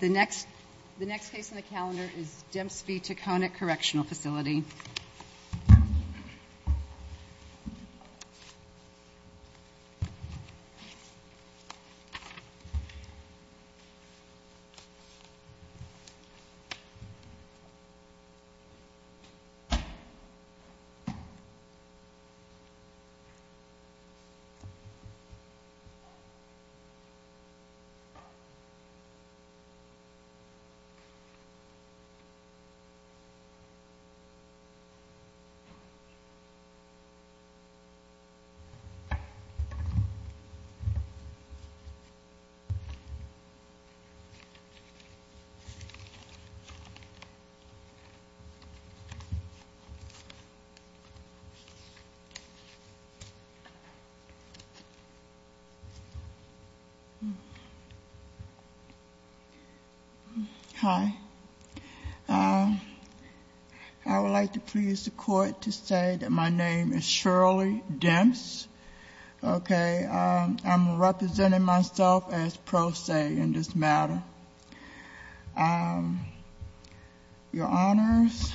The next case on the calendar is Demps v. Taconic Correctional Facility. Demps v. Taconic Correctional Facility Hi. I would like to please the court to say that my name is Shirley Demps. I'm representing myself as pro se in this matter. Your Honors,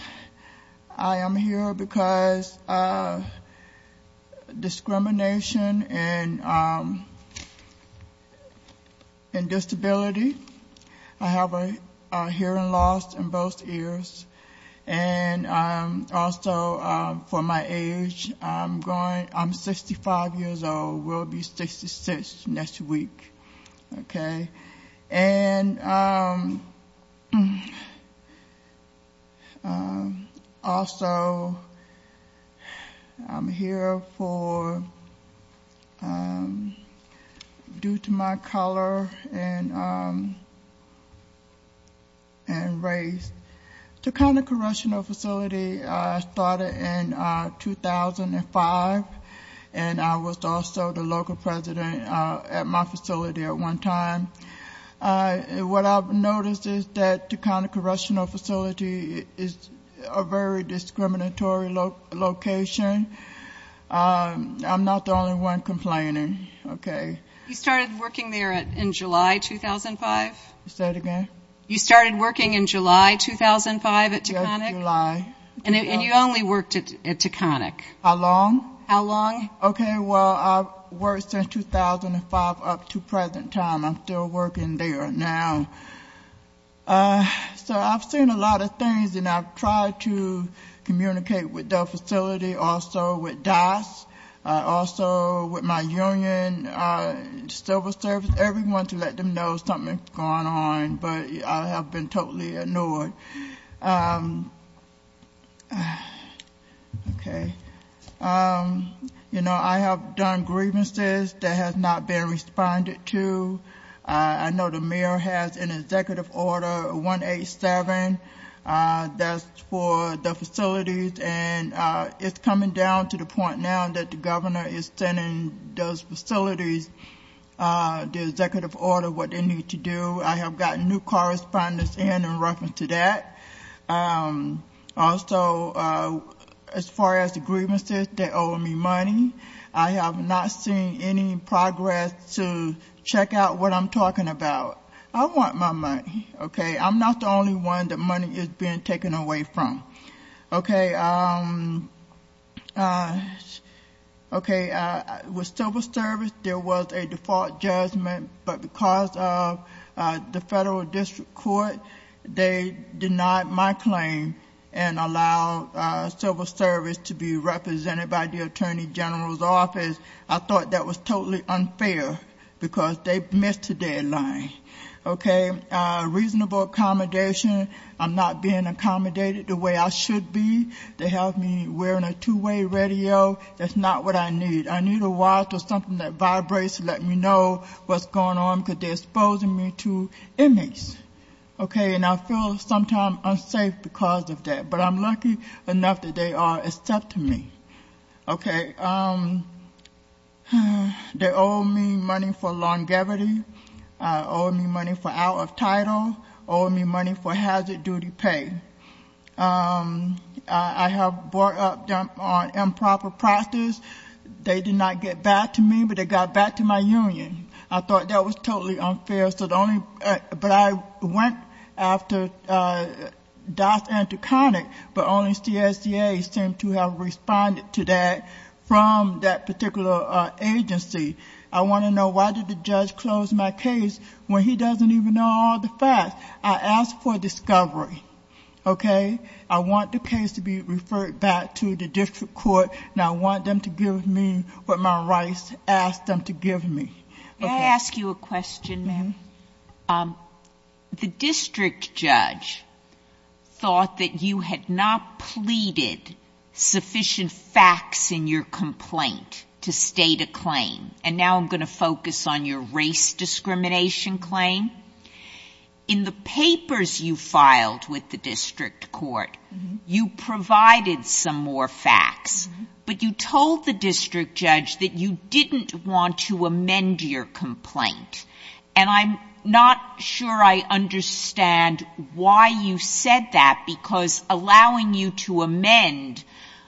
I am here because of discrimination and disability. I have a hearing loss in both ears. And also for my age, I'm 65 years old, will be 66 next week. Also, I'm here due to my color and race. Taconic Correctional Facility started in 2005. And I was also the local president at my facility at one time. What I've noticed is that Taconic Correctional Facility is a very discriminatory location. I'm not the only one complaining. Okay. You started working there in July 2005? Say it again. You started working in July 2005 at Taconic? Yes, July. And you only worked at Taconic? How long? How long? Okay. Well, I've worked since 2005 up to present time. I'm still working there now. So I've seen a lot of things, and I've tried to communicate with the facility, also with DAS, also with my union, civil service, everyone, to let them know something's going on. But I have been totally ignored. Okay. You know, I have done grievances that have not been responded to. I know the mayor has an executive order, 187, that's for the facilities. And it's coming down to the point now that the governor is sending those facilities the executive order, what they need to do. I have gotten new correspondence in in reference to that. Also, as far as the grievances, they owe me money. I have not seen any progress to check out what I'm talking about. I want my money. Okay. I'm not the only one that money is being taken away from. Okay. Okay. With civil service, there was a default judgment, but because of the federal district court, they denied my claim and allowed civil service to be represented by the attorney general's office. I thought that was totally unfair because they missed the deadline. Okay. I get reasonable accommodation. I'm not being accommodated the way I should be. They have me wearing a two-way radio. That's not what I need. I need a watch or something that vibrates to let me know what's going on because they're exposing me to inmates. Okay. And I feel sometimes unsafe because of that. But I'm lucky enough that they are accepting me. Okay. They owe me money for longevity. They owe me money for out of title. They owe me money for hazard duty pay. I have brought up them on improper process. They did not get back to me, but they got back to my union. I thought that was totally unfair. But I went after DAS and Taconic, but only CSEA seemed to have responded to that from that particular agency. I want to know why did the judge close my case when he doesn't even know all the facts. I asked for discovery. Okay. I want the case to be referred back to the district court, and I want them to give me what my rights asked them to give me. May I ask you a question, ma'am? The district judge thought that you had not pleaded sufficient facts in your complaint to state a claim. And now I'm going to focus on your race discrimination claim. In the papers you filed with the district court, you provided some more facts, but you told the district judge that you didn't want to amend your complaint. And I'm not sure I understand why you said that, because allowing you to amend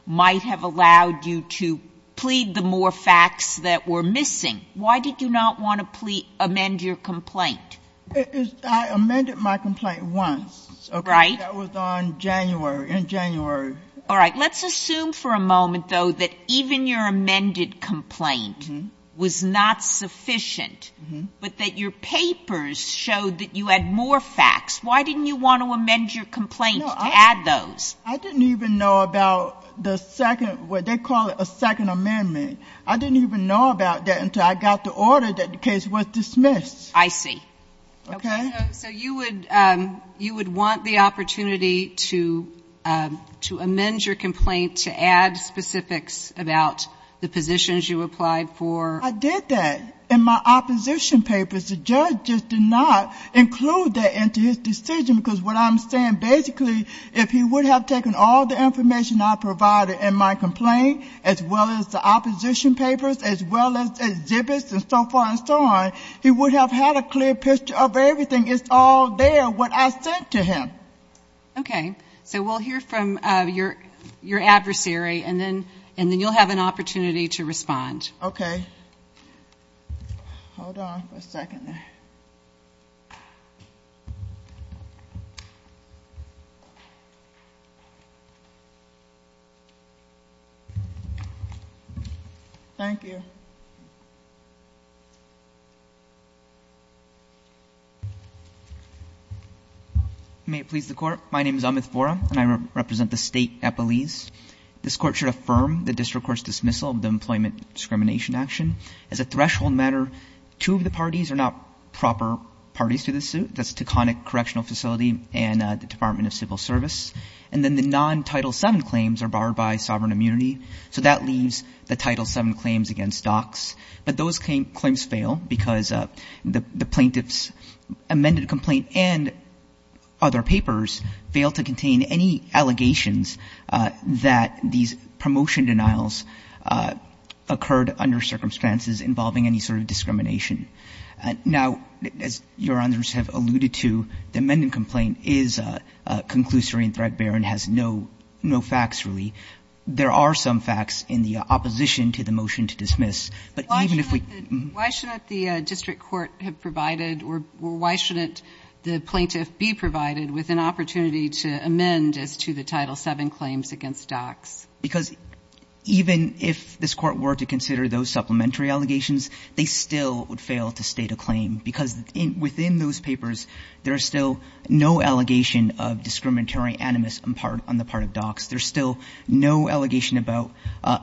might have allowed you to plead the more facts that were missing. Why did you not want to amend your complaint? I amended my complaint once. Right. That was on January, in January. All right. Let's assume for a moment, though, that even your amended complaint was not sufficient, but that your papers showed that you had more facts. Why didn't you want to amend your complaint to add those? I didn't even know about the second what they call a second amendment. I didn't even know about that until I got the order that the case was dismissed. I see. Okay. So you would want the opportunity to amend your complaint to add specifics about the positions you applied for? I did that. In my opposition papers, the judge just did not include that into his decision, because what I'm saying basically, if he would have taken all the information I provided in my complaint, as well as the opposition papers, as well as exhibits and so forth and so on, he would have had a clear picture of everything. It's all there, what I sent to him. Okay. So we'll hear from your adversary, and then you'll have an opportunity to respond. Okay. Hold on for a second there. Thank you. May it please the Court. My name is Amit Vora, and I represent the State Epelese. This Court should affirm the district court's dismissal of the employment discrimination action. As a threshold matter, two of the parties are not proper parties to this suit. That's Taconic Correctional Facility and the Department of Civil Service. And then the non-Title VII claims are barred by sovereign immunity. So that leaves the Title VII claims against DOCS. But those claims fail because the plaintiff's amended complaint and other papers fail to contain any allegations that these promotion denials occurred under circumstances involving any sort of discrimination. Now, as Your Honors have alluded to, the amended complaint is conclusory and threadbare and has no facts, really. There are some facts in the opposition to the motion to dismiss. But even if we can ---- Why shouldn't the district court have provided or why shouldn't the plaintiff be provided with an opportunity to amend as to the Title VII claims against DOCS? Because even if this Court were to consider those supplementary allegations, they still would fail to state a claim. Because within those papers, there is still no allegation of discriminatory animus on the part of DOCS. There's still no allegation about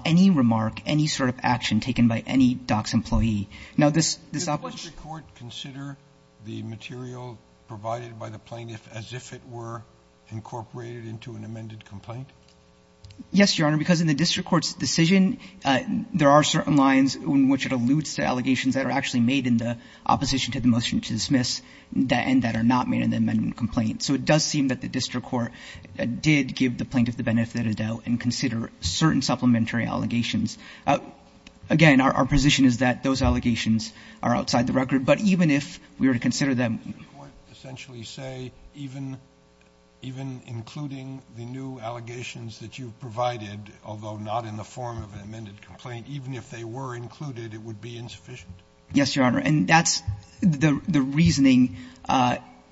any remark, any sort of action taken by any DOCS employee. Now, this ---- Does the district court consider the material provided by the plaintiff as if it were incorporated into an amended complaint? Yes, Your Honor. Because in the district court's decision, there are certain lines in which it alludes to allegations that are actually made in the opposition to the motion to dismiss and that are not made in the amended complaint. So it does seem that the district court did give the plaintiff the benefit of the doubt and consider certain supplementary allegations. Again, our position is that those allegations are outside the record. But even if we were to consider them ---- Does the court essentially say even including the new allegations that you've provided, although not in the form of an amended complaint, even if they were included, it would be insufficient? Yes, Your Honor. And that's the reasoning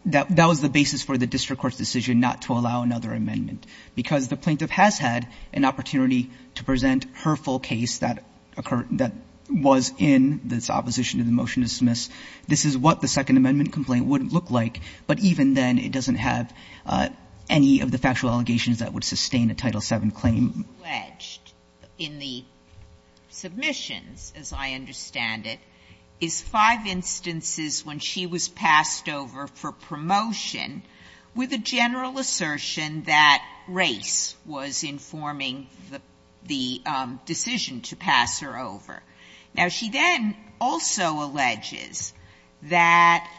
that was the basis for the district court's decision not to allow another amendment, because the plaintiff has had an opportunity to present her full case that occurred ---- that was in this opposition to the motion to dismiss. This is what the Second Amendment complaint would look like. But even then, it doesn't have any of the factual allegations that would sustain a Title VII claim. What is alleged in the submissions, as I understand it, is five instances when she was passed over for promotion with a general assertion that race was informing the decision to pass her over. Now, she then also alleges that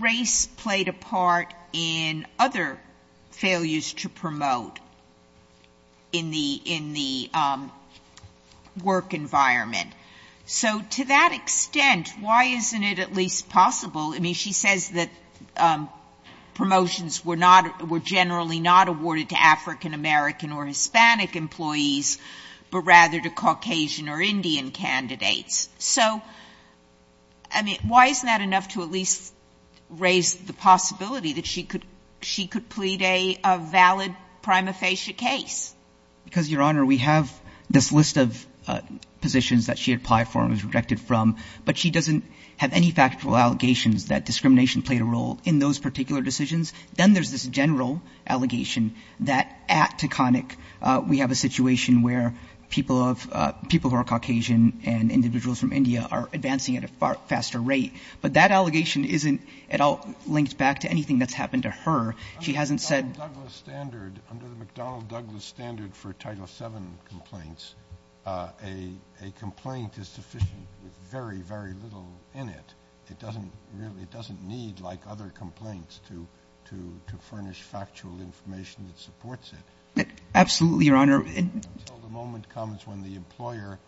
race played a part in other failures to promote in the work environment. So to that extent, why isn't it at least possible ---- I mean, she says that promotions were generally not awarded to African-American or Hispanic employees, but rather to Caucasian or Indian candidates. So, I mean, why isn't that enough to at least raise the possibility that she could plead a valid prima facie case? Because, Your Honor, we have this list of positions that she applied for and was rejected from, but she doesn't have any factual allegations that discrimination played a role in those particular decisions. Then there's this general allegation that at Taconic, we have a situation where people of ---- people who are Caucasian and individuals from India are advancing at a far faster rate. But that allegation isn't at all linked back to anything that's happened to her. She hasn't said ---- Kennedy, under the McDonnell-Douglas standard for Title VII complaints, a complaint is sufficient with very, very little in it. It doesn't really ---- it doesn't need, like other complaints, to furnish factual information that supports it. Absolutely, Your Honor. Until the moment comes when the employer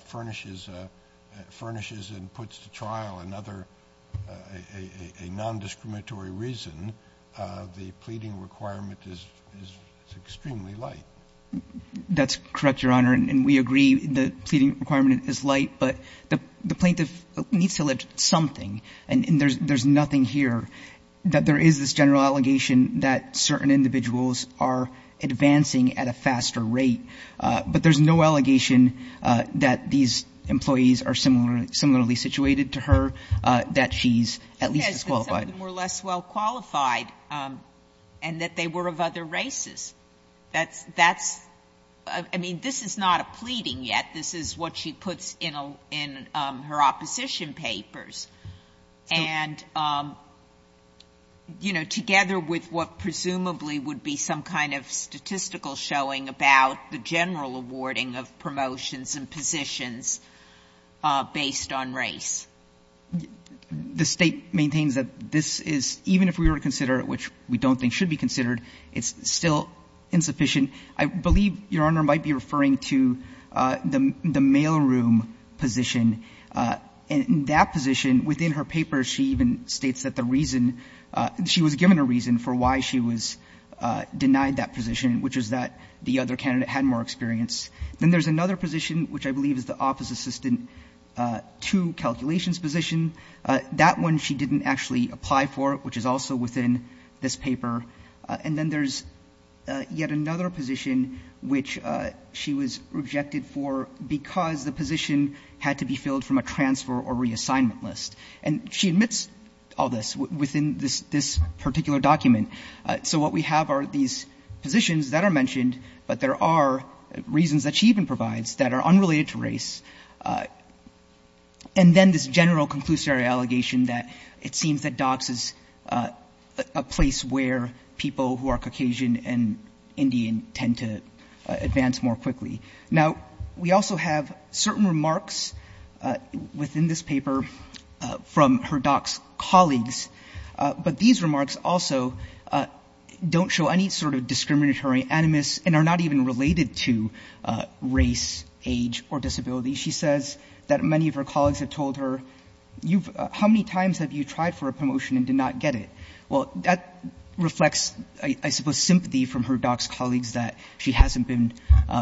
furnishes and puts to trial another non-discriminatory reason, the pleading requirement is extremely light. That's correct, Your Honor, and we agree the pleading requirement is light. But the plaintiff needs to lift something. And there's nothing here that there is this general allegation that certain individuals are advancing at a faster rate. But there's no allegation that these employees are similarly situated to her, that she's at least as qualified. Yes, that some of them were less well qualified and that they were of other races. That's ---- I mean, this is not a pleading yet. This is what she puts in her opposition papers. And, you know, together with what presumably would be some kind of statistical showing about the general awarding of promotions and positions based on race. The State maintains that this is, even if we were to consider it, which we don't think should be considered, it's still insufficient. I believe, Your Honor, might be referring to the mailroom position. In that position, within her paper, she even states that the reason, she was given a reason for why she was denied that position, which is that the other candidate had more experience. Then there's another position, which I believe is the office assistant to calculations position. That one she didn't actually apply for, which is also within this paper. And then there's yet another position which she was rejected for because the position had to be filled from a transfer or reassignment list. And she admits all this within this particular document. So what we have are these positions that are mentioned, but there are reasons And then this general conclusory allegation that it seems that DOCS is a place where people who are Caucasian and Indian tend to advance more quickly. Now, we also have certain remarks within this paper from her DOCS colleagues, but these remarks also don't show any sort of discriminatory animus and are not even related to race, age, or disability. She says that many of her colleagues have told her, you've — how many times have you tried for a promotion and did not get it? Well, that reflects, I suppose, sympathy from her DOCS colleagues that she hasn't been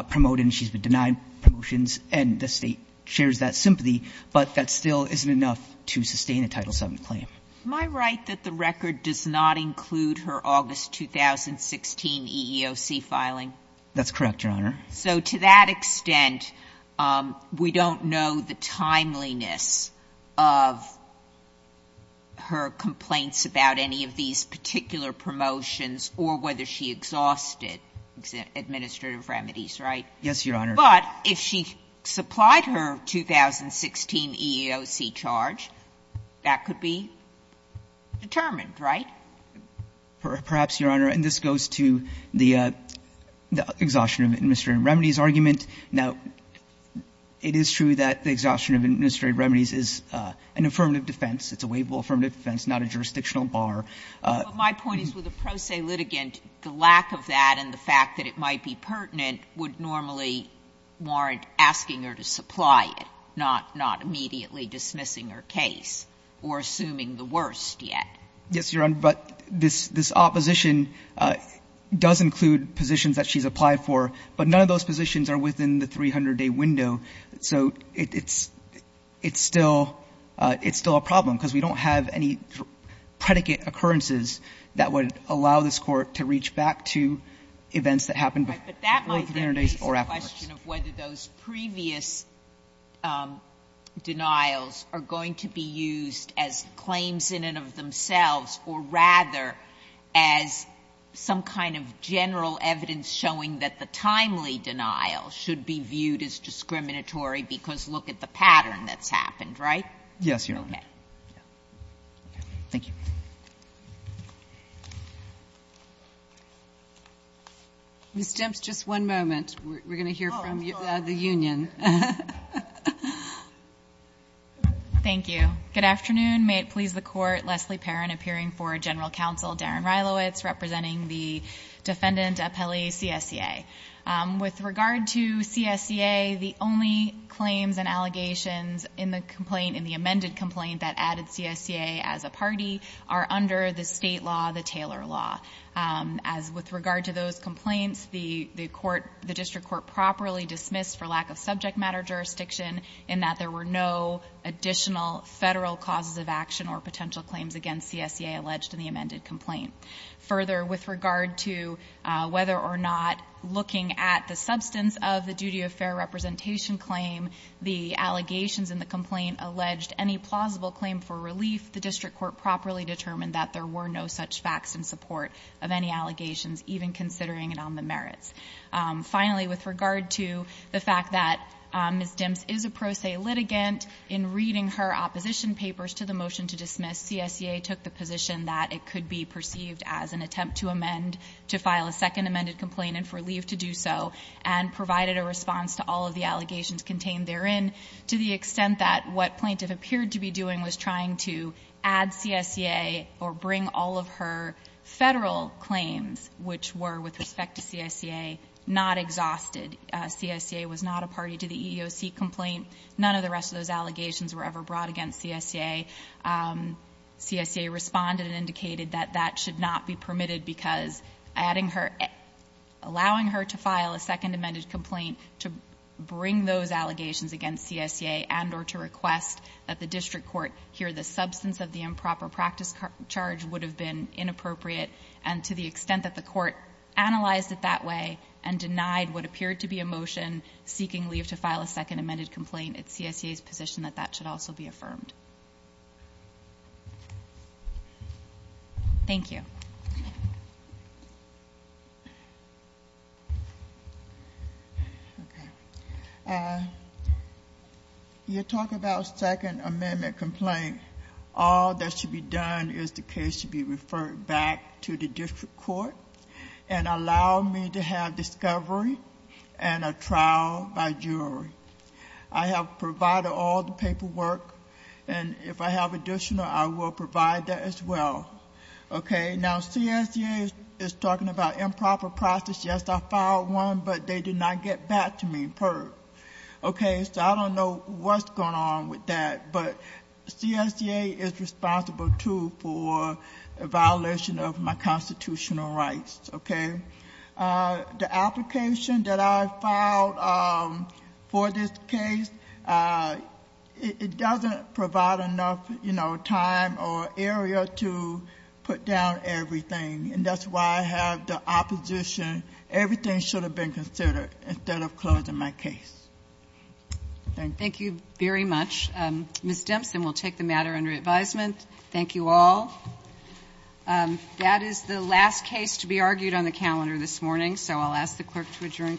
promoted and she's been denied promotions, and the State shares that sympathy, but that still isn't enough to sustain a Title VII claim. Am I right that the record does not include her August 2016 EEOC filing? That's correct, Your Honor. So to that extent, we don't know the timeliness of her complaints about any of these particular promotions or whether she exhausted administrative remedies, right? Yes, Your Honor. But if she supplied her 2016 EEOC charge, that could be determined, right? Perhaps, Your Honor. And this goes to the exhaustion of administrative remedies argument. Now, it is true that the exhaustion of administrative remedies is an affirmative defense. It's a waivable affirmative defense, not a jurisdictional bar. But my point is, with a pro se litigant, the lack of that and the fact that it might be pertinent would normally warrant asking her to supply it, not immediately dismissing her case or assuming the worst yet. Yes, Your Honor. But this opposition does include positions that she's applied for. But none of those positions are within the 300-day window. So it's still a problem, because we don't have any predicate occurrences that would allow this Court to reach back to events that happened before the 300 days or afterwards. Right. But that might then raise the question of whether those previous denials are going to be used as claims in and of themselves or rather as some kind of general evidence showing that the timely denial should be viewed as discriminatory because look at the pattern that's happened, right? Yes, Your Honor. Okay. Thank you. Ms. Stemps, just one moment. We're going to hear from the union. Thank you. Good afternoon. May it please the Court. Leslie Perrin, appearing for General Counsel. Darren Reilowitz, representing the Defendant Appellee, CSCA. With regard to CSCA, the only claims and allegations in the complaint, in the amended complaint that added CSCA as a party are under the state law, the Taylor Law. As with regard to those complaints, the District Court properly dismissed for lack of subject matter jurisdiction in that there were no additional federal causes of action or potential claims against CSCA alleged in the amended complaint. Further, with regard to whether or not looking at the substance of the duty of fair representation claim, the allegations in the complaint alleged any plausible claim for relief, the District Court properly determined that there were no such facts in support of any allegations, even considering it on the merits. Finally, with regard to the fact that Ms. Stemps is a pro se litigant, in reading her opposition papers to the motion to dismiss, CSCA took the position that it could be perceived as an attempt to amend, to file a second amended complaint and for relief to do so, and provided a response to all of the allegations contained therein, to the extent that what plaintiff appeared to be doing was trying to add CSCA or bring all of her federal claims, which were with respect to CSCA, not exhausted. CSCA was not a party to the EEOC complaint. None of the rest of those allegations were ever brought against CSCA. CSCA responded and indicated that that should not be permitted because adding her — allowing her to file a second amended complaint to bring those allegations against CSCA and or to request that the District Court hear the substance of the improper practice charge would have been inappropriate. And to the extent that the Court analyzed it that way and denied what appeared to be a motion seeking leave to file a second amended complaint, it's CSCA's position that that should also be affirmed. Thank you. Okay. You talk about second amendment complaint. All that should be done is the case should be referred back to the District Court and allow me to have discovery and a trial by jury. I have provided all the paperwork, and if I have additional, I will provide that as well. Okay. Now, CSCA is talking about improper process. Yes, I filed one, but they did not get back to me, PERP. Okay. So I don't know what's going on with that, but CSCA is responsible, too, for a violation of my constitutional rights. Okay. The application that I filed for this case, it doesn't provide enough, you know, time or area to put down everything. And that's why I have the opposition, everything should have been considered instead of closing my case. Thank you. Thank you very much. Ms. Dimpson will take the matter under advisement. Thank you all. That is the last case to be argued on the calendar this morning, so I'll ask the clerk to adjourn court.